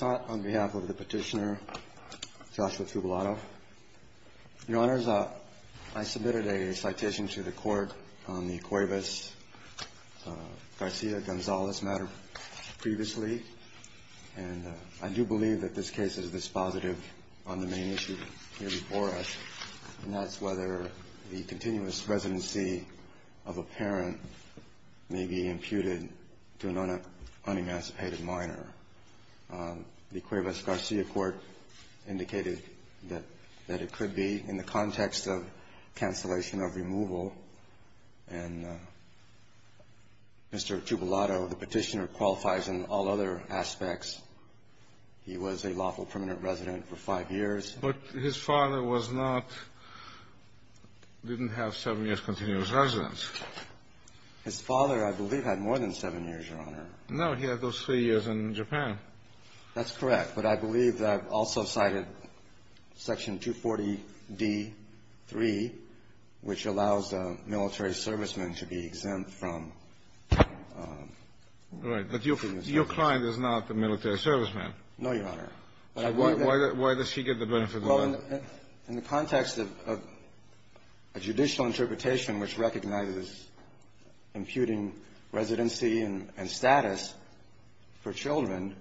on behalf of the petitioner, Joshua Tubalado. Your Honors, I submitted a citation to the court on the Cuevas-Garcia-Gonzalez matter previously, and I do believe that this case is dispositive on the main issue here before us, and that's whether the continuous residency of a parent may be imputed to an unemancipated minor. The Cuevas-Garcia court indicated that it could be in the context of cancellation of removal, and Mr. Tubalado, the petitioner, qualifies in all other aspects. He was a lawful permanent resident for five years. But his father was not – didn't have seven years continuous residence. His father, I believe, had more than seven years, Your Honor. No. He had those three years in Japan. That's correct. But I believe that I've also cited Section 240d.3, which allows a military serviceman to be exempt from continuous residency. Right. But your client is not a military serviceman. No, Your Honor. Why does he get the benefit of the law? Well, in the context of a judicial interpretation which recognizes imputing residency and status for children,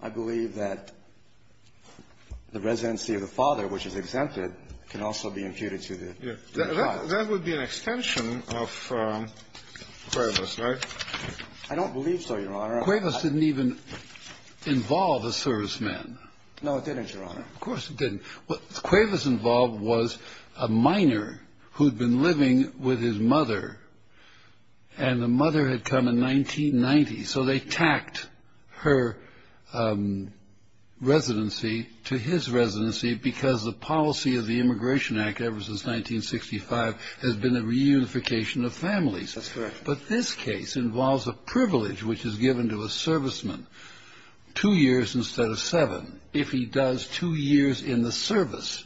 I believe that the residency of the father, which is exempted, can also be imputed to the child. That would be an extension of Cuevas, right? I don't believe so, Your Honor. Cuevas didn't even involve a serviceman. No, it didn't, Your Honor. Of course it didn't. What Cuevas involved was a minor who'd been living with his mother. And the mother had come in 1990. So they tacked her residency to his residency because the policy of the Immigration Act ever since 1965 has been a reunification of families. That's correct. But this case involves a privilege which is given to a serviceman, two years instead of seven, if he does two years in the service.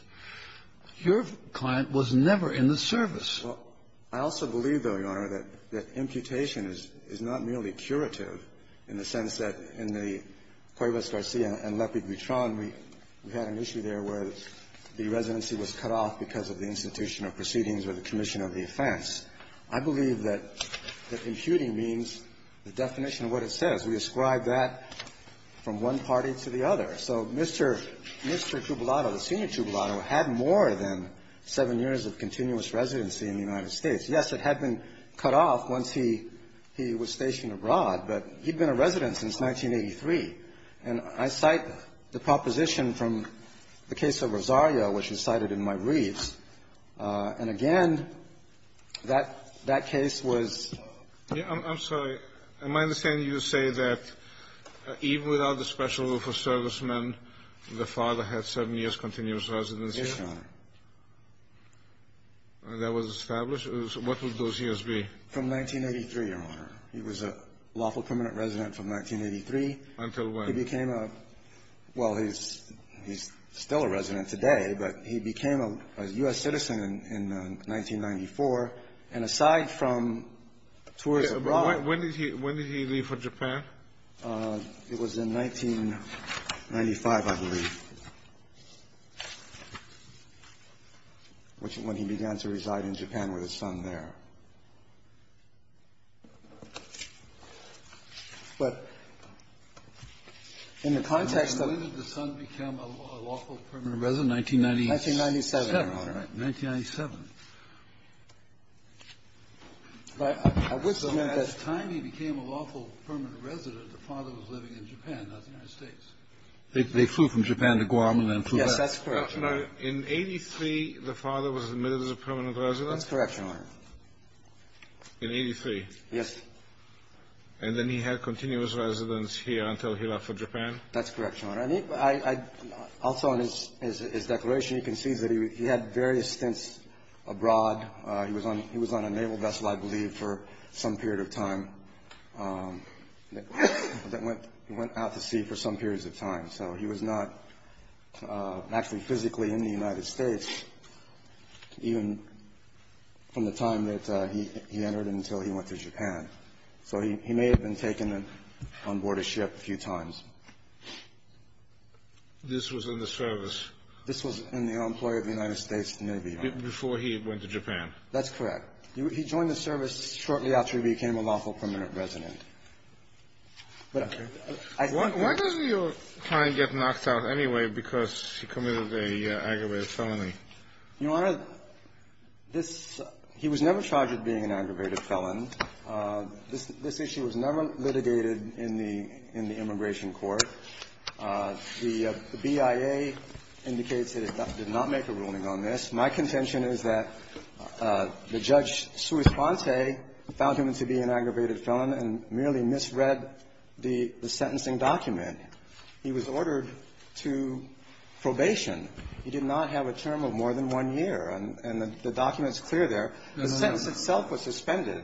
Your client was never in the service. Well, I also believe, though, Your Honor, that imputation is not merely curative in the sense that in the Cuevas-Garcia and Lepid-Buitron, we had an issue there where the residency was cut off because of the institutional proceedings or the commission of the offense. I believe that imputing means the definition of what it says. We ascribe that from one party to the other. So Mr. Trubelato, the senior Trubelato, had more than seven years of continuous residency in the United States. Yes, it had been cut off once he was stationed abroad. But he'd been a resident since 1983. And I cite the proposition from the case of Rosario, which was cited in my reads. And again, that case was ---- I'm sorry. Am I understanding you to say that even without the special rule for servicemen, the father had seven years continuous residency? Yes, Your Honor. And that was established? What would those years be? From 1983, Your Honor. He was a lawful permanent resident from 1983. Until when? He was a U.S. citizen in 1994. And aside from tours abroad ---- When did he leave for Japan? It was in 1995, I believe, when he began to reside in Japan with his son there. But in the context of ---- When did the son become a lawful permanent resident? 1997, Your Honor. All right, 1997. But I would submit that ---- So by the time he became a lawful permanent resident, the father was living in Japan, not the United States. They flew from Japan to Guam and then flew back. Yes, that's correct, Your Honor. In 83, the father was admitted as a permanent resident? That's correct, Your Honor. In 83? Yes. That's correct, Your Honor. Also in his declaration, you can see that he had various stints abroad. He was on a naval vessel, I believe, for some period of time that went out to sea for some periods of time. So he was not actually physically in the United States even from the time that he entered until he went to Japan. So he may have been taken on board a ship a few times. This was in the service? This was in the employ of the United States Navy, Your Honor. Before he went to Japan? That's correct. He joined the service shortly after he became a lawful permanent resident. But I think ---- Why does your client get knocked out anyway because he committed an aggravated felony? Your Honor, this ---- he was never charged with being an aggravated felon. This issue was never litigated in the immigration court. The BIA indicates that it did not make a ruling on this. My contention is that the Judge Suis Ponte found him to be an aggravated felon and merely misread the sentencing document. He was ordered to probation. He did not have a term of more than one year. And the document is clear there. The sentence itself was suspended.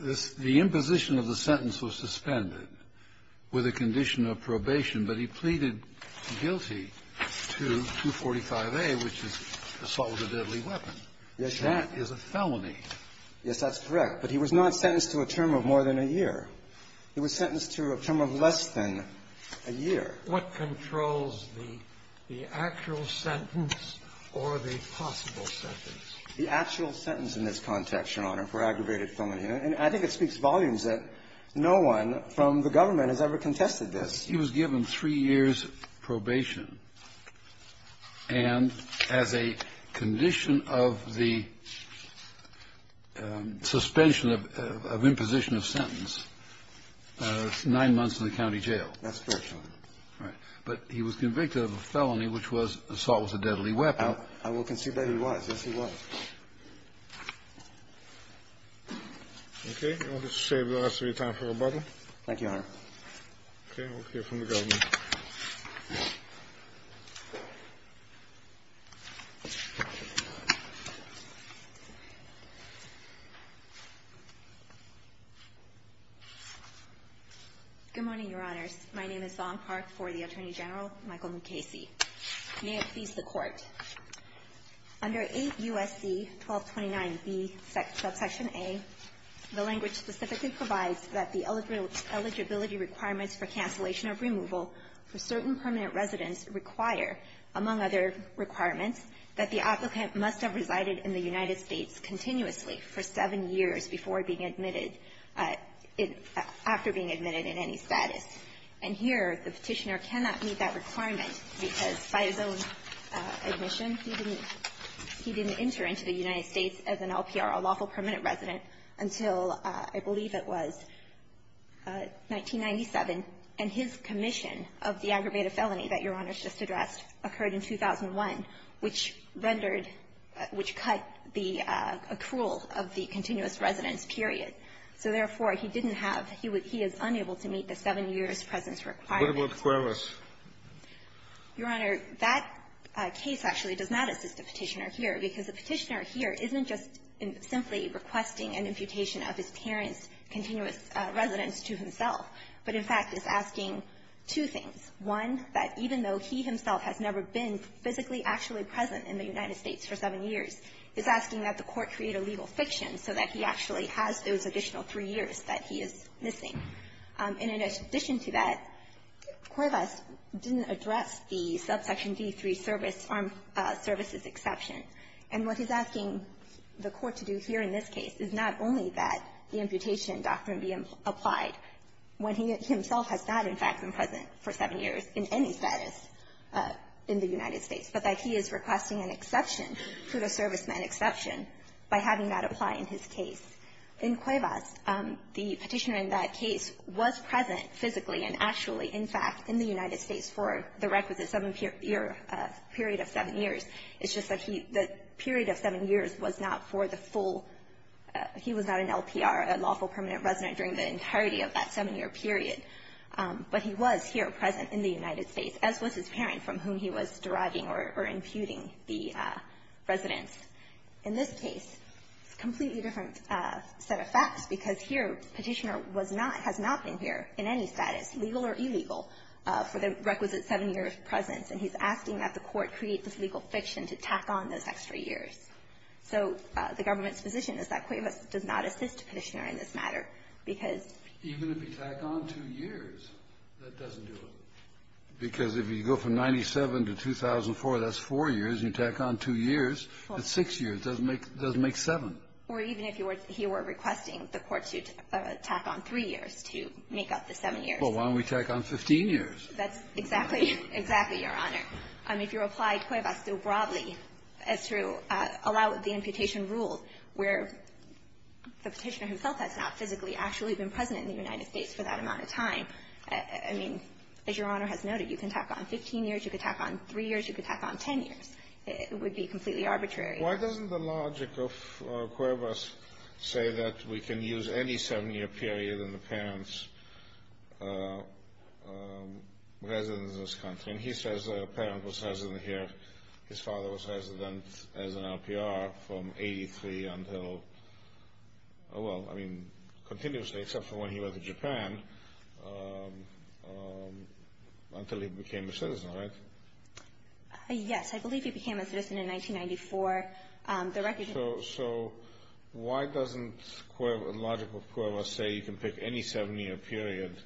The imposition of the sentence was suspended with a condition of probation. But he pleaded guilty to 245A, which is assault with a deadly weapon. Yes, Your Honor. That is a felony. Yes, that's correct. But he was not sentenced to a term of more than a year. He was sentenced to a term of less than a year. What controls the actual sentence or the possible sentence? The actual sentence in this context, Your Honor, for aggravated felony. And I think it speaks volumes that no one from the government has ever contested this. He was given three years probation and as a condition of the suspension of imposition of sentence, nine months in the county jail. That's correct, Your Honor. Right. But he was convicted of a felony, which was assault with a deadly weapon. I will concede that he was. Yes, he was. Okay, I will just save the rest of your time for rebuttal. Thank you, Your Honor. Okay, we'll hear from the government. Good morning, Your Honors. My name is Zong Park for the Attorney General, Michael Mukasey. May it please the Court. Under 8 U.S.C. 1229b, subsection a, the language specifically provides that the eligibility requirements for cancellation of removal for certain permanent residents require, among other requirements, that the applicant must have resided in the United States continuously for seven years before being admitted, after being admitted in any status. And here, the Petitioner cannot meet that requirement because by his own admission, he didn't enter into the United States as an LPR, a lawful permanent resident, until I believe it was 1997. And his commission of the aggravated felony that Your Honors just addressed occurred in 2001, which rendered the accrual of the continuous residence period. So, therefore, he didn't have he would he is unable to meet the seven years presence What about Cuevas? Your Honor, that case actually does not assist the Petitioner here because the Petitioner here isn't just simply requesting an imputation of his parents' continuous residence to himself, but, in fact, is asking two things. One, that even though he himself has never been physically actually present in the United States for seven years, is asking that the Court create a legal fiction so that he actually has those additional three years that he is missing. And in addition to that, Cuevas didn't address the subsection D3 service, armed services exception. And what he's asking the Court to do here in this case is not only that the imputation doctrine be applied when he himself has not, in fact, been present for seven years in any status in the United States, but that he is requesting an exception, to the serviceman exception, by having that apply in his case. In Cuevas, the Petitioner in that case was present physically and actually, in fact, in the United States for the requisite seven-year period of seven years. It's just that he the period of seven years was not for the full he was not an LPR, a lawful permanent resident during the entirety of that seven-year period. But he was here present in the United States, as was his parent from whom he was deriving or imputing the residence. In this case, it's a completely different set of facts, because here Petitioner was not, has not been here in any status, legal or illegal, for the requisite seven-year presence. And he's asking that the Court create this legal fiction to tack on those extra years. So the government's position is that Cuevas does not assist Petitioner in this matter, because — Even if you tack on two years, that doesn't do it. Because if you go from 97 to 2004, that's four years. You tack on two years, that's six years. It doesn't make seven. Or even if he were requesting the Court to tack on three years to make up the seven years. Well, why don't we tack on 15 years? That's exactly, exactly, Your Honor. If you apply Cuevas so broadly as to allow the imputation rule, where the Petitioner himself has not physically actually been present in the United States for that amount of time. I mean, as Your Honor has noted, you can tack on 15 years, you can tack on three years, you can tack on 10 years. It would be completely arbitrary. Why doesn't the logic of Cuevas say that we can use any seven-year period in the parent's residence in this country? And he says that a parent was resident here, his father was resident as an LPR from 1983 until, oh well, I mean, continuously, except for when he was in Japan, until he became a citizen, right? Yes, I believe he became a citizen in 1994. The record... So why doesn't the logic of Cuevas say you can pick any seven-year period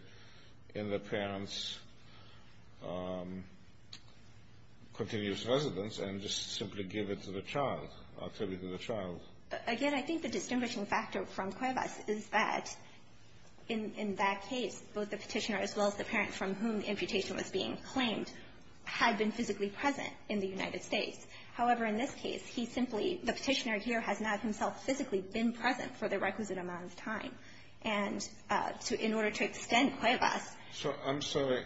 in the parent's continuous residence and just simply give it to the child, attribute it to the child? Again, I think the distinguishing factor from Cuevas is that in that case, both the Petitioner as well as the parent from whom the imputation was being claimed had been physically present in the United States. However, in this case, he simply, the Petitioner here has not himself physically been present for the requisite amount of time. And in order to extend Cuevas... I'm sorry.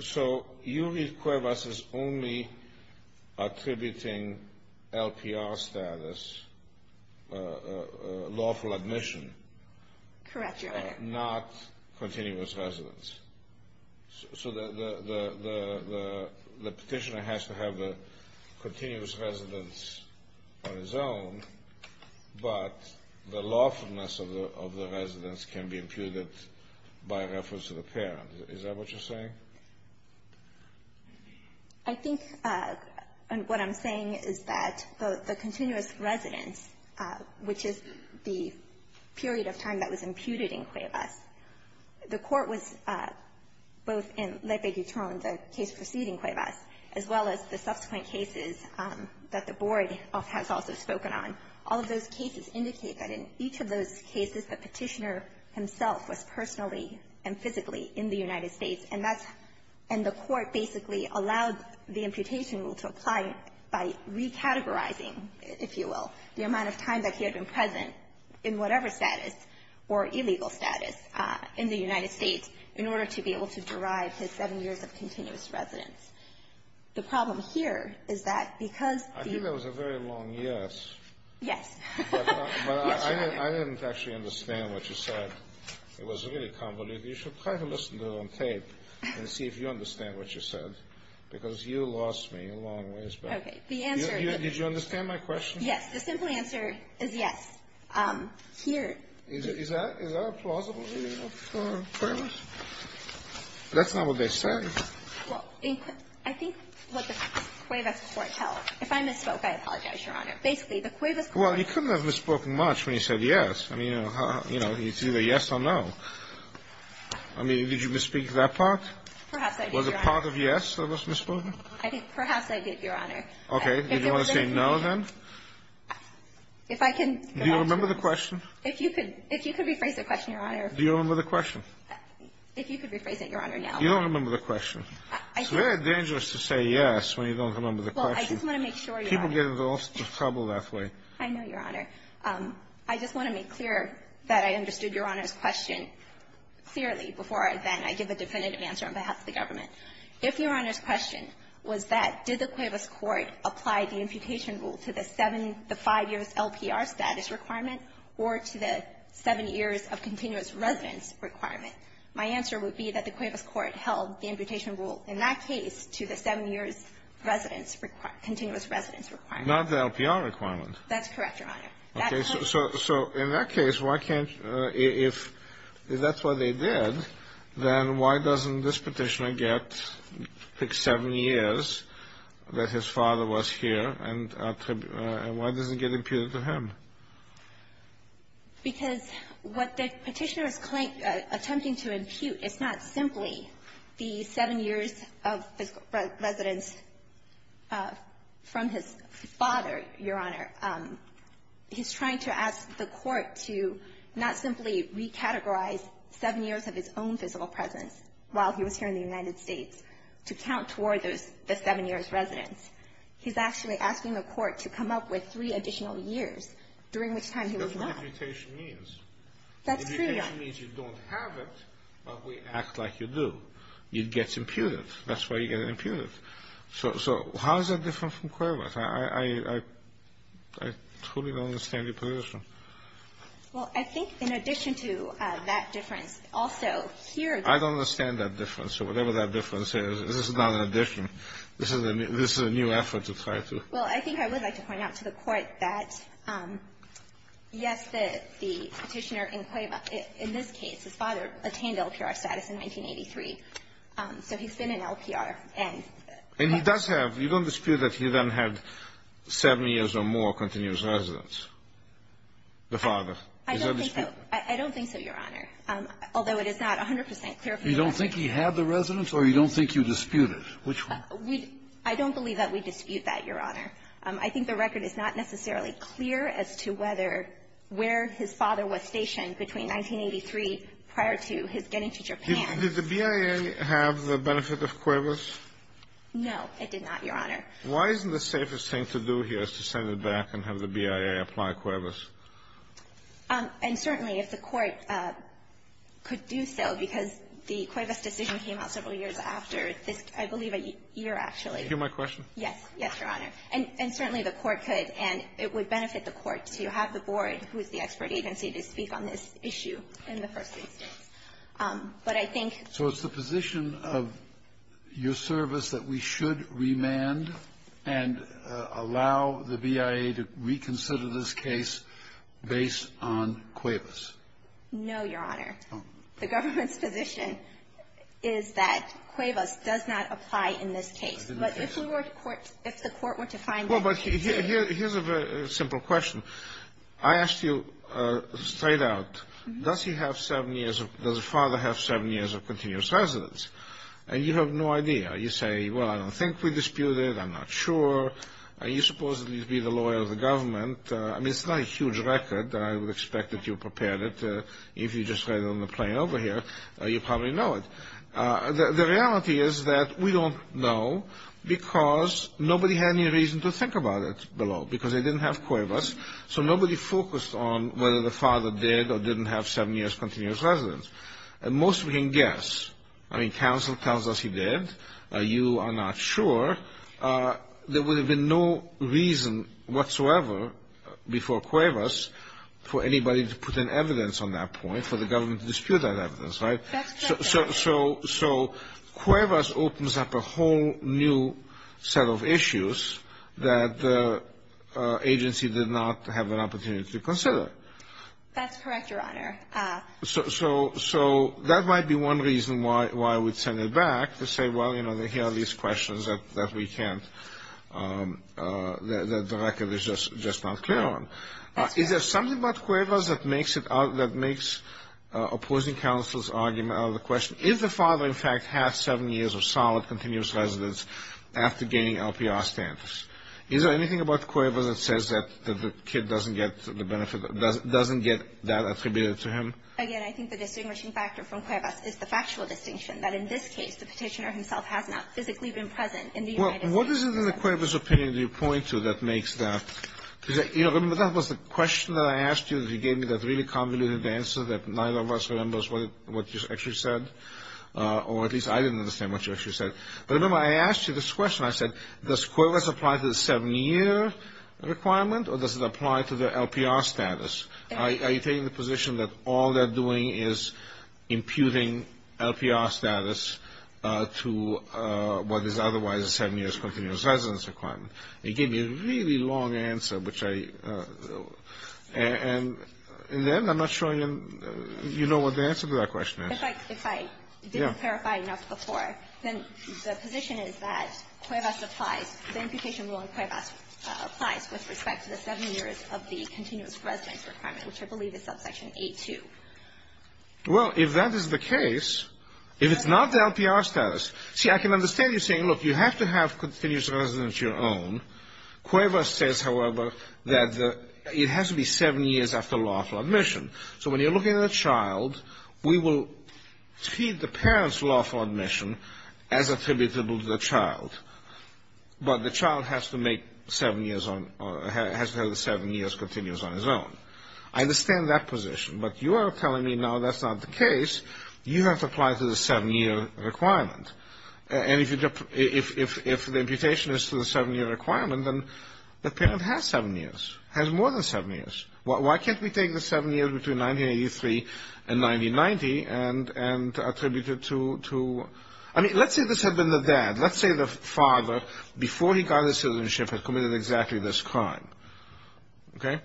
So you read Cuevas as only attributing LPR status, lawful admission? Correct, Your Honor. Not continuous residence. So the Petitioner has to have a continuous residence on his own, but the lawfulness of Is that what you're saying? I think what I'm saying is that the continuous residence, which is the period of time that was imputed in Cuevas, the Court was both in Lepe-Guitron, the case preceding Cuevas, as well as the subsequent cases that the Board has also spoken on. All of those cases indicate that in each of those cases, the Petitioner himself was present personally and physically in the United States, and that's, and the Court basically allowed the imputation rule to apply by recategorizing, if you will, the amount of time that he had been present in whatever status or illegal status in the United States in order to be able to derive his seven years of continuous residence. The problem here is that because... I think that was a very long yes. Yes. But I didn't actually understand what you said. It was really convoluted. You should try to listen to it on tape and see if you understand what you said, because you lost me a long ways back. Okay. The answer... Did you understand my question? Yes. The simple answer is yes. Here... Is that a plausible view of Cuevas? That's not what they said. Well, I think what the Cuevas Court held, if I misspoke, I apologize, Your Honor. Basically, the Cuevas Court... You couldn't have misspoken much when you said yes. I mean, it's either yes or no. I mean, did you misspeak that part? Perhaps I did, Your Honor. Was it part of yes that was misspoken? I think perhaps I did, Your Honor. Okay. Did you want to say no, then? If I can... Do you remember the question? If you could rephrase the question, Your Honor. Do you remember the question? If you could rephrase it, Your Honor, now. You don't remember the question. It's very dangerous to say yes when you don't remember the question. Well, I just want to make sure, Your Honor. People get into trouble that way. I know, Your Honor. I just want to make clear that I understood Your Honor's question clearly before I then I give a definitive answer on behalf of the government. If Your Honor's question was that did the Cuevas Court apply the imputation rule to the seven the five years LPR status requirement or to the seven years of continuous residence requirement, my answer would be that the Cuevas Court held the imputation rule in that case to the seven years residence continuous residence requirement. Not the LPR requirement. That's correct, Your Honor. Okay, so in that case, why can't if that's what they did, then why doesn't this petitioner get the seven years that his father was here and why doesn't it get imputed to him? Because what the petitioner is attempting to impute is not simply the seven years of physical residence from his father, Your Honor. He's trying to ask the court to not simply recategorize seven years of his own physical presence while he was here in the United States to count toward the seven years residence. He's actually asking the court to come up with three additional years, during which time he was not. That's what imputation means. That's true, Your Honor. Imputation means you don't have it, but we act like you do. It gets imputed. That's why you get it imputed. So how is that different from Cuevas? I truly don't understand your position. Well, I think in addition to that difference, also here the ---- I don't understand that difference. So whatever that difference is, this is not an addition. This is a new effort to try to ---- Well, I think I would like to point out to the court that, yes, the petitioner in Cuevas, in this case, his father attained LPR status in 1983. So he's been in LPR. And he does have ---- you don't dispute that he then had seven years or more continuous residence, the father. I don't think so. I don't think so, Your Honor, although it is not 100 percent clear from the record. You don't think he had the residence, or you don't think you dispute it? Which one? We ---- I don't believe that we dispute that, Your Honor. I think the record is not necessarily clear as to whether where his father was stationed between 1983 prior to his getting to Japan. Did the BIA have the benefit of Cuevas? No, it did not, Your Honor. Why isn't the safest thing to do here is to send it back and have the BIA apply Cuevas? And certainly if the Court could do so, because the Cuevas decision came out several years after this, I believe a year, actually. Do you hear my question? Yes. Yes, Your Honor. And certainly the Court could, and it would benefit the Court to have the board, who is the expert agency, to speak on this issue in the first instance. But I think ---- So it's the position of your service that we should remand and allow the BIA to reconsider this case based on Cuevas? No, Your Honor. The government's position is that Cuevas does not apply in this case. But if we were to court ---- if the Court were to find that ---- Well, but here's a very simple question. I asked you straight out, does he have seven years of ---- does the father have seven years of continuous residence? And you have no idea. You say, well, I don't think we dispute it. I'm not sure. Are you supposed to be the lawyer of the government? I mean, it's not a huge record. I would expect that you prepared it. If you just read it on the plane over here, you probably know it. The reality is that we don't know because nobody had any reason to think about it because they didn't have Cuevas. So nobody focused on whether the father did or didn't have seven years continuous residence. And most of you can guess. I mean, counsel tells us he did. You are not sure. There would have been no reason whatsoever before Cuevas for anybody to put in evidence on that point, for the government to dispute that evidence, right? That's correct. So Cuevas opens up a whole new set of issues that the agency did not have an opportunity to consider. That's correct, Your Honor. So that might be one reason why I would send it back to say, well, you know, here are these questions that we can't ---- that the record is just not clear on. Is there something about Cuevas that makes it ---- that makes opposing counsel's argument out of the question? Is the father, in fact, had seven years of solid continuous residence after gaining LPR standards? Is there anything about Cuevas that says that the kid doesn't get the benefit, doesn't get that attributed to him? Again, I think the distinguishing factor from Cuevas is the factual distinction, that in this case, the petitioner himself has not physically been present in the United States. What is it in the Cuevas opinion that you point to that makes that? You know, remember, that was the question that I asked you that you gave me that really convoluted answer that neither of us remembers what you actually said, or at least I didn't understand what you actually said. But remember, I asked you this question. I said, does Cuevas apply to the seven-year requirement, or does it apply to the LPR status? Are you taking the position that all they're doing is imputing LPR status to what is otherwise a seven-year continuous residence requirement? You gave me a really long answer, which I – and then I'm not sure you know what the answer to that question is. If I didn't clarify enough before, then the position is that Cuevas applies. The imputation rule in Cuevas applies with respect to the seven years of the continuous residence requirement, which I believe is subsection A2. Well, if that is the case, if it's not the LPR status – see, I can understand you saying, look, you have to have continuous residence of your own. Cuevas says, however, that it has to be seven years after lawful admission. So when you're looking at a child, we will treat the parent's lawful admission as attributable to the child, but the child has to make seven years on – has to have the seven years continuous on his own. I understand that position, but you are telling me now that's not the case. You have to apply to the seven-year requirement. And if you – if the imputation is to the seven-year requirement, then the parent has seven years, has more than seven years. Why can't we take the seven years between 1983 and 1990 and attribute it to – I mean, let's say this had been the dad. Let's say the father, before he got his citizenship, had committed exactly this crime. Okay?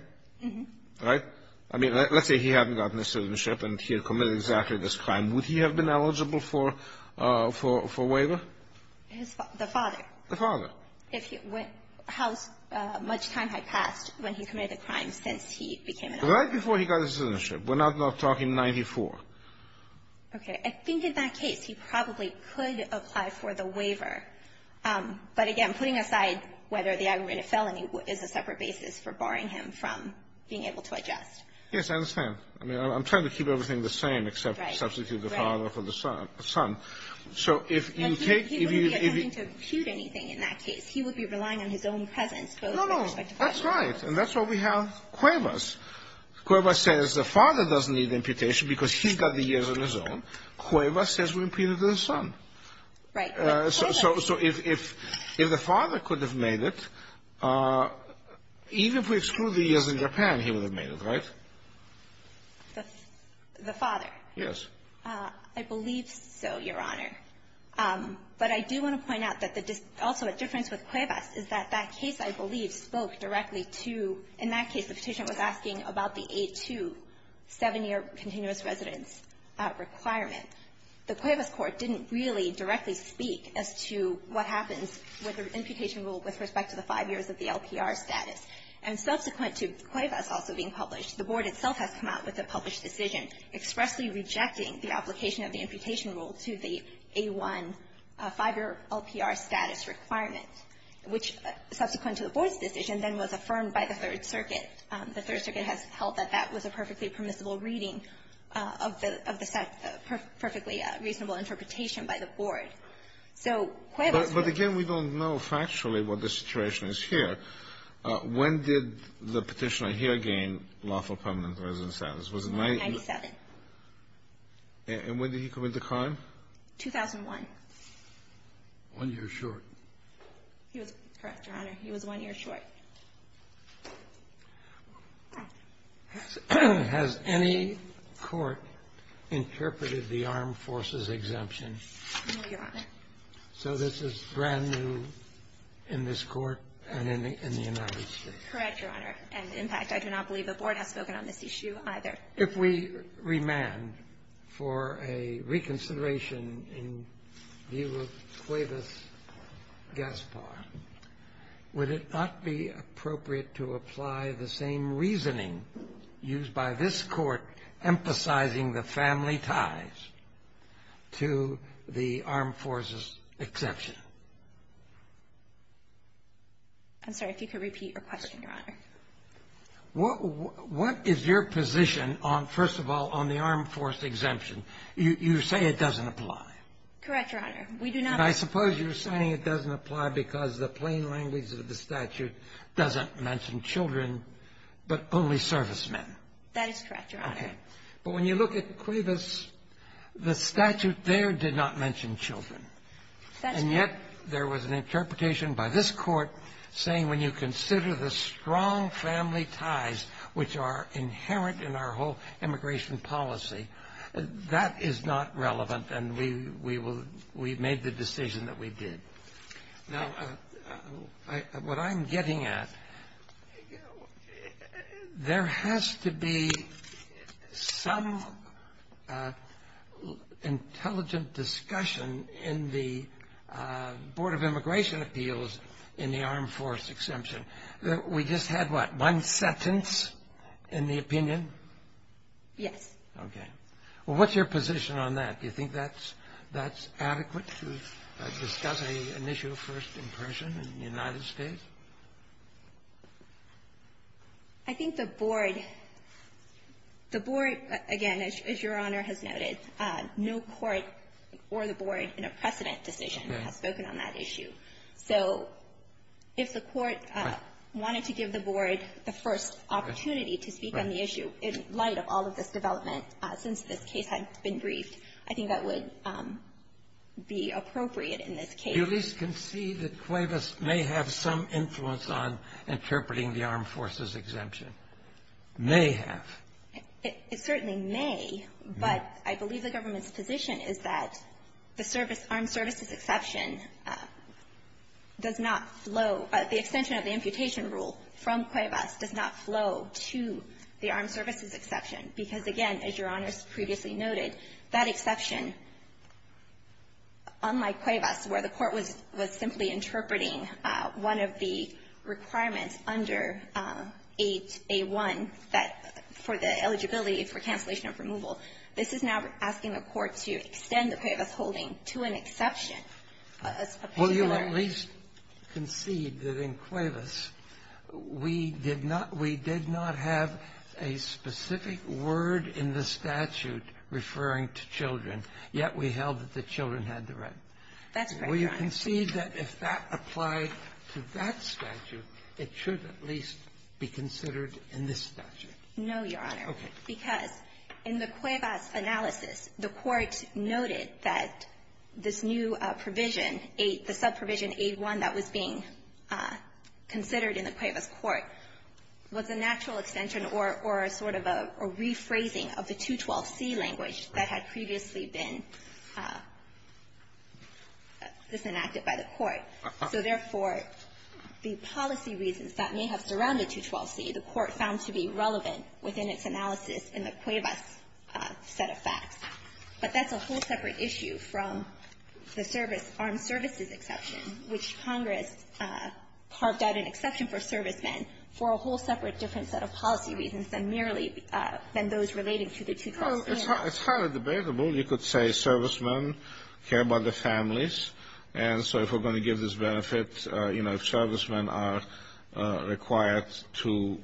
Right? I mean, let's say he hadn't gotten his citizenship and he had committed exactly this crime. Would he have been eligible for waiver? His – the father? The father. If he – how much time had passed when he committed the crime since he became an adult? Right before he got his citizenship. We're not talking 1994. Okay. I think in that case, he probably could apply for the waiver. But again, putting aside whether the aggravated felony is a separate basis for barring him from being able to adjust. Yes, I understand. I mean, I'm trying to keep everything the same except substitute the father for the son. So if you take – He wouldn't be attempting to impute anything in that case. He would be relying on his own presence, both with respect to father and son. No, no. That's right. And that's why we have Cuevas. Cuevas says the father doesn't need imputation because he's got the years on his own. Cuevas says we impute it to the son. Right. So if the father could have made it, even if we exclude the years in Japan, he would have made it, right? The father. Yes. I believe so, Your Honor. But I do want to point out that the – also a difference with Cuevas is that that case, I believe, spoke directly to – in that case, the Petitioner was asking about the A-2 seven-year continuous residence requirement. The Cuevas court didn't really directly speak as to what happens with the imputation rule with respect to the five years of the LPR status. And subsequent to Cuevas also being published, the Board itself has come out with a published decision expressly rejecting the application of the imputation rule to the A-1 five-year LPR status requirement, which, subsequent to the Board's decision, then was affirmed by the Third Circuit. The Third Circuit has held that that was a perfectly permissible reading of the – of the – perfectly reasonable interpretation by the Board. So Cuevas – When did the Petitioner here gain lawful permanent residence status? Was it – 1997. And when did he commit the crime? 2001. One year short. He was – correct, Your Honor. He was one year short. Has any court interpreted the Armed Forces exemption? No, Your Honor. So this is brand new in this Court and in the United States? Correct, Your Honor. And, in fact, I do not believe the Board has spoken on this issue either. If we remand for a reconsideration in view of Cuevas-Gaspar, would it not be appropriate to apply the same reasoning used by this Court emphasizing the family ties to the Armed Forces exemption? I'm sorry. If you could repeat your question, Your Honor. What is your position on – first of all, on the Armed Forces exemption? You say it doesn't apply. Correct, Your Honor. We do not – And I suppose you're saying it doesn't apply because the plain language of the statute doesn't mention children, but only servicemen. That is correct, Your Honor. Okay. But when you look at Cuevas, the statute there did not mention children. That's right. And yet there was an interpretation by this Court saying when you consider the strong family ties which are inherent in our whole immigration policy, that is not relevant, and we will – we made the decision that we did. Now, what I'm getting at, there has to be some intelligent discussion in the Board of Immigration Appeals in the Armed Forces exemption. We just had, what, one sentence in the opinion? Yes. Okay. Well, what's your position on that? Do you think that's – that's adequate to discuss an issue of first impression in the United States? I think the Board – the Board, again, as Your Honor has noted, no court or the Board in a precedent decision has spoken on that issue. So if the court wanted to give the Board the first opportunity to speak on the issue in light of all of this development since this case had been briefed, I think that would be appropriate in this case. Do you at least concede that Cuevas may have some influence on interpreting the Armed Forces exemption? May have. It certainly may, but I believe the government's position is that the service – armed services exception does not flow – the extension of the amputation rule from Cuevas does not flow to the armed services exception. Because, again, as Your Honor has previously noted, that exception, unlike Cuevas, where the court was simply interpreting one of the requirements under 8A1 that – for the eligibility for cancellation of removal, this is now asking the court to extend the Cuevas holding to an exception. Will you at least concede that in Cuevas, we did not – we did not have a specific word in the statute referring to children, yet we held that the children had the right. That's correct, Your Honor. Will you concede that if that applied to that statute, it should at least be considered in this statute? No, Your Honor. Okay. Because in the Cuevas analysis, the court noted that this new provision, the subprovision 8A1 that was being considered in the Cuevas court, was a natural extension or a sort of a rephrasing of the 212C language that had previously been disenacted by the court. So therefore, the policy reasons that may have surrounded 212C, the court found to be in the Cuevas set of facts. But that's a whole separate issue from the service – armed services exception, which Congress carved out an exception for servicemen for a whole separate different set of policy reasons than merely – than those relating to the 212C. It's highly debatable. You could say servicemen care about their families. And so if we're going to give this benefit, you know, if servicemen are required to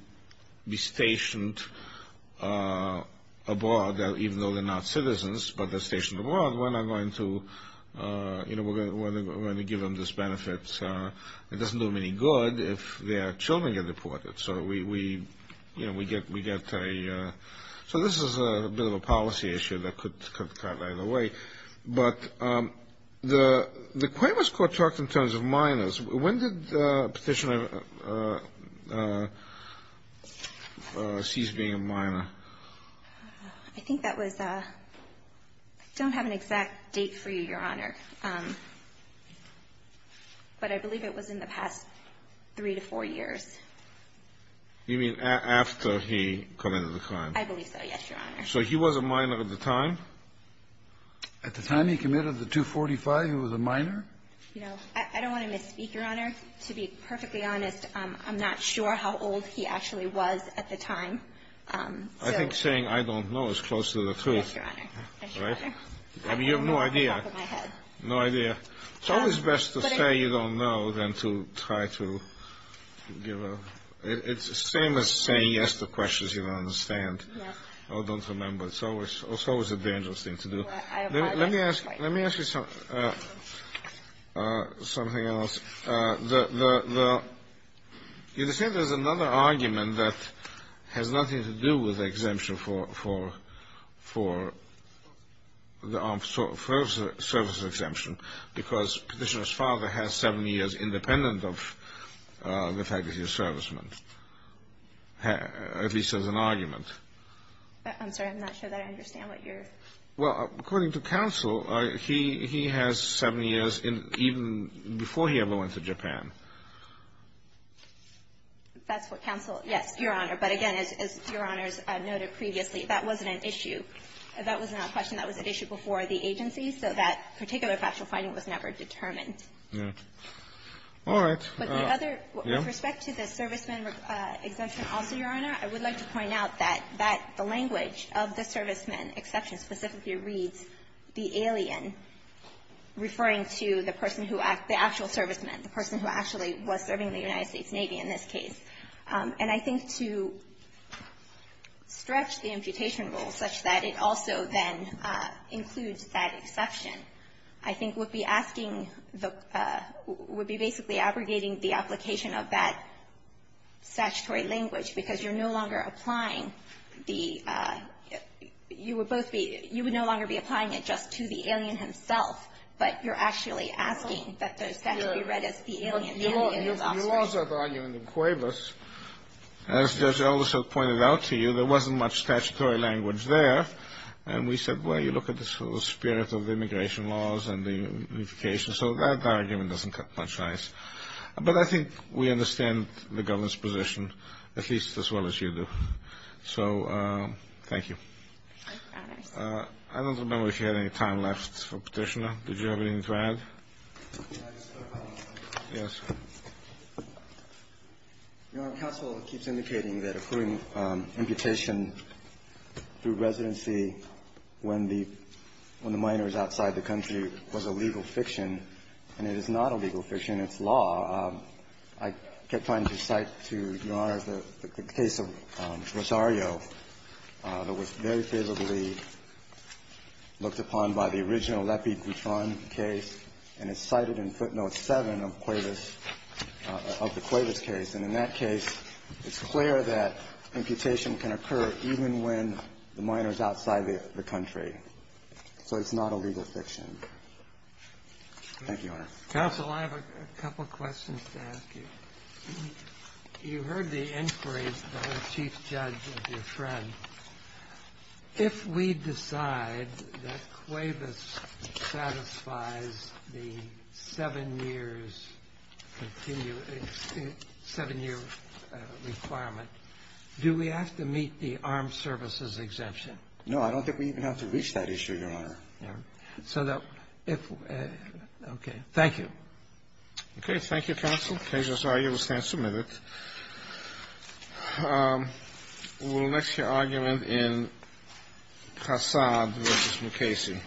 be stationed abroad, even though they're not citizens, but they're stationed abroad, we're not going to – you know, we're going to give them this benefit. It doesn't do them any good if their children get deported. So we – you know, we get a – so this is a bit of a policy issue that could cut either way. When did Petitioner cease being a minor? I think that was – I don't have an exact date for you, Your Honor. But I believe it was in the past three to four years. You mean after he committed the crime? I believe so, yes, Your Honor. So he was a minor at the time? You know, I don't want to misspeak, Your Honor. To be perfectly honest, I'm not sure how old he actually was at the time. I think saying, I don't know, is close to the truth. Yes, Your Honor. Right? I mean, you have no idea. No idea. It's always best to say you don't know than to try to give a – it's the same as saying yes to questions you don't understand or don't remember. It's always a dangerous thing to do. Let me ask you something else. You understand there's another argument that has nothing to do with the exemption for the armed services exemption, because Petitioner's father has seven years independent of the fact that he's a serviceman, at least as an argument. I'm sorry. I'm not sure that I understand what you're – Well, according to counsel, he has seven years even before he ever went to Japan. That's what counsel – yes, Your Honor. But again, as Your Honors noted previously, that wasn't an issue. That was not a question. That was an issue before the agency, so that particular factual finding was never determined. All right. But the other – with respect to the serviceman exemption also, Your Honor, I would like to point out that that – the language of the serviceman exception specifically reads the alien, referring to the person who – the actual serviceman, the person who actually was serving in the United States Navy in this case. And I think to stretch the imputation rule such that it also then includes that exception, I think would be asking the – would be basically abrogating the application of that or applying the – you would both be – you would no longer be applying it just to the alien himself, but you're actually asking that those facts be read as the alien and the alien's offspring. Your Laws have argued in Cuevas. As Judge Aldershot pointed out to you, there wasn't much statutory language there. And we said, well, you look at the spirit of immigration laws and the unification, so that argument doesn't cut much ice. But I think we understand the government's position, at least as well as you do. So thank you. I promise. I don't remember if you had any time left for Petitioner. Did you have anything to add? Yes, sir. Your Honor, counsel keeps indicating that including imputation through residency when the – when the minor is outside the country was a legal fiction, and it is not a legal fiction. It's law. I kept trying to cite to Your Honor the case of Rosario that was very favorably looked upon by the original Lepi-Guton case, and it's cited in footnote 7 of Cuevas – of the Cuevas case. And in that case, it's clear that imputation can occur even when the minor is outside the country. Thank you, Your Honor. Counsel, I have a couple questions to ask you. You heard the inquiries by the chief judge of your friend. If we decide that Cuevas satisfies the seven years – seven-year requirement, do we have to meet the armed services exemption? No, I don't think we even have to reach that issue, Your Honor. So that – okay. Thank you. Okay. Thank you, counsel. Case of Rosario will stand submitted. We will next hear argument in Cassad v. Mukasey.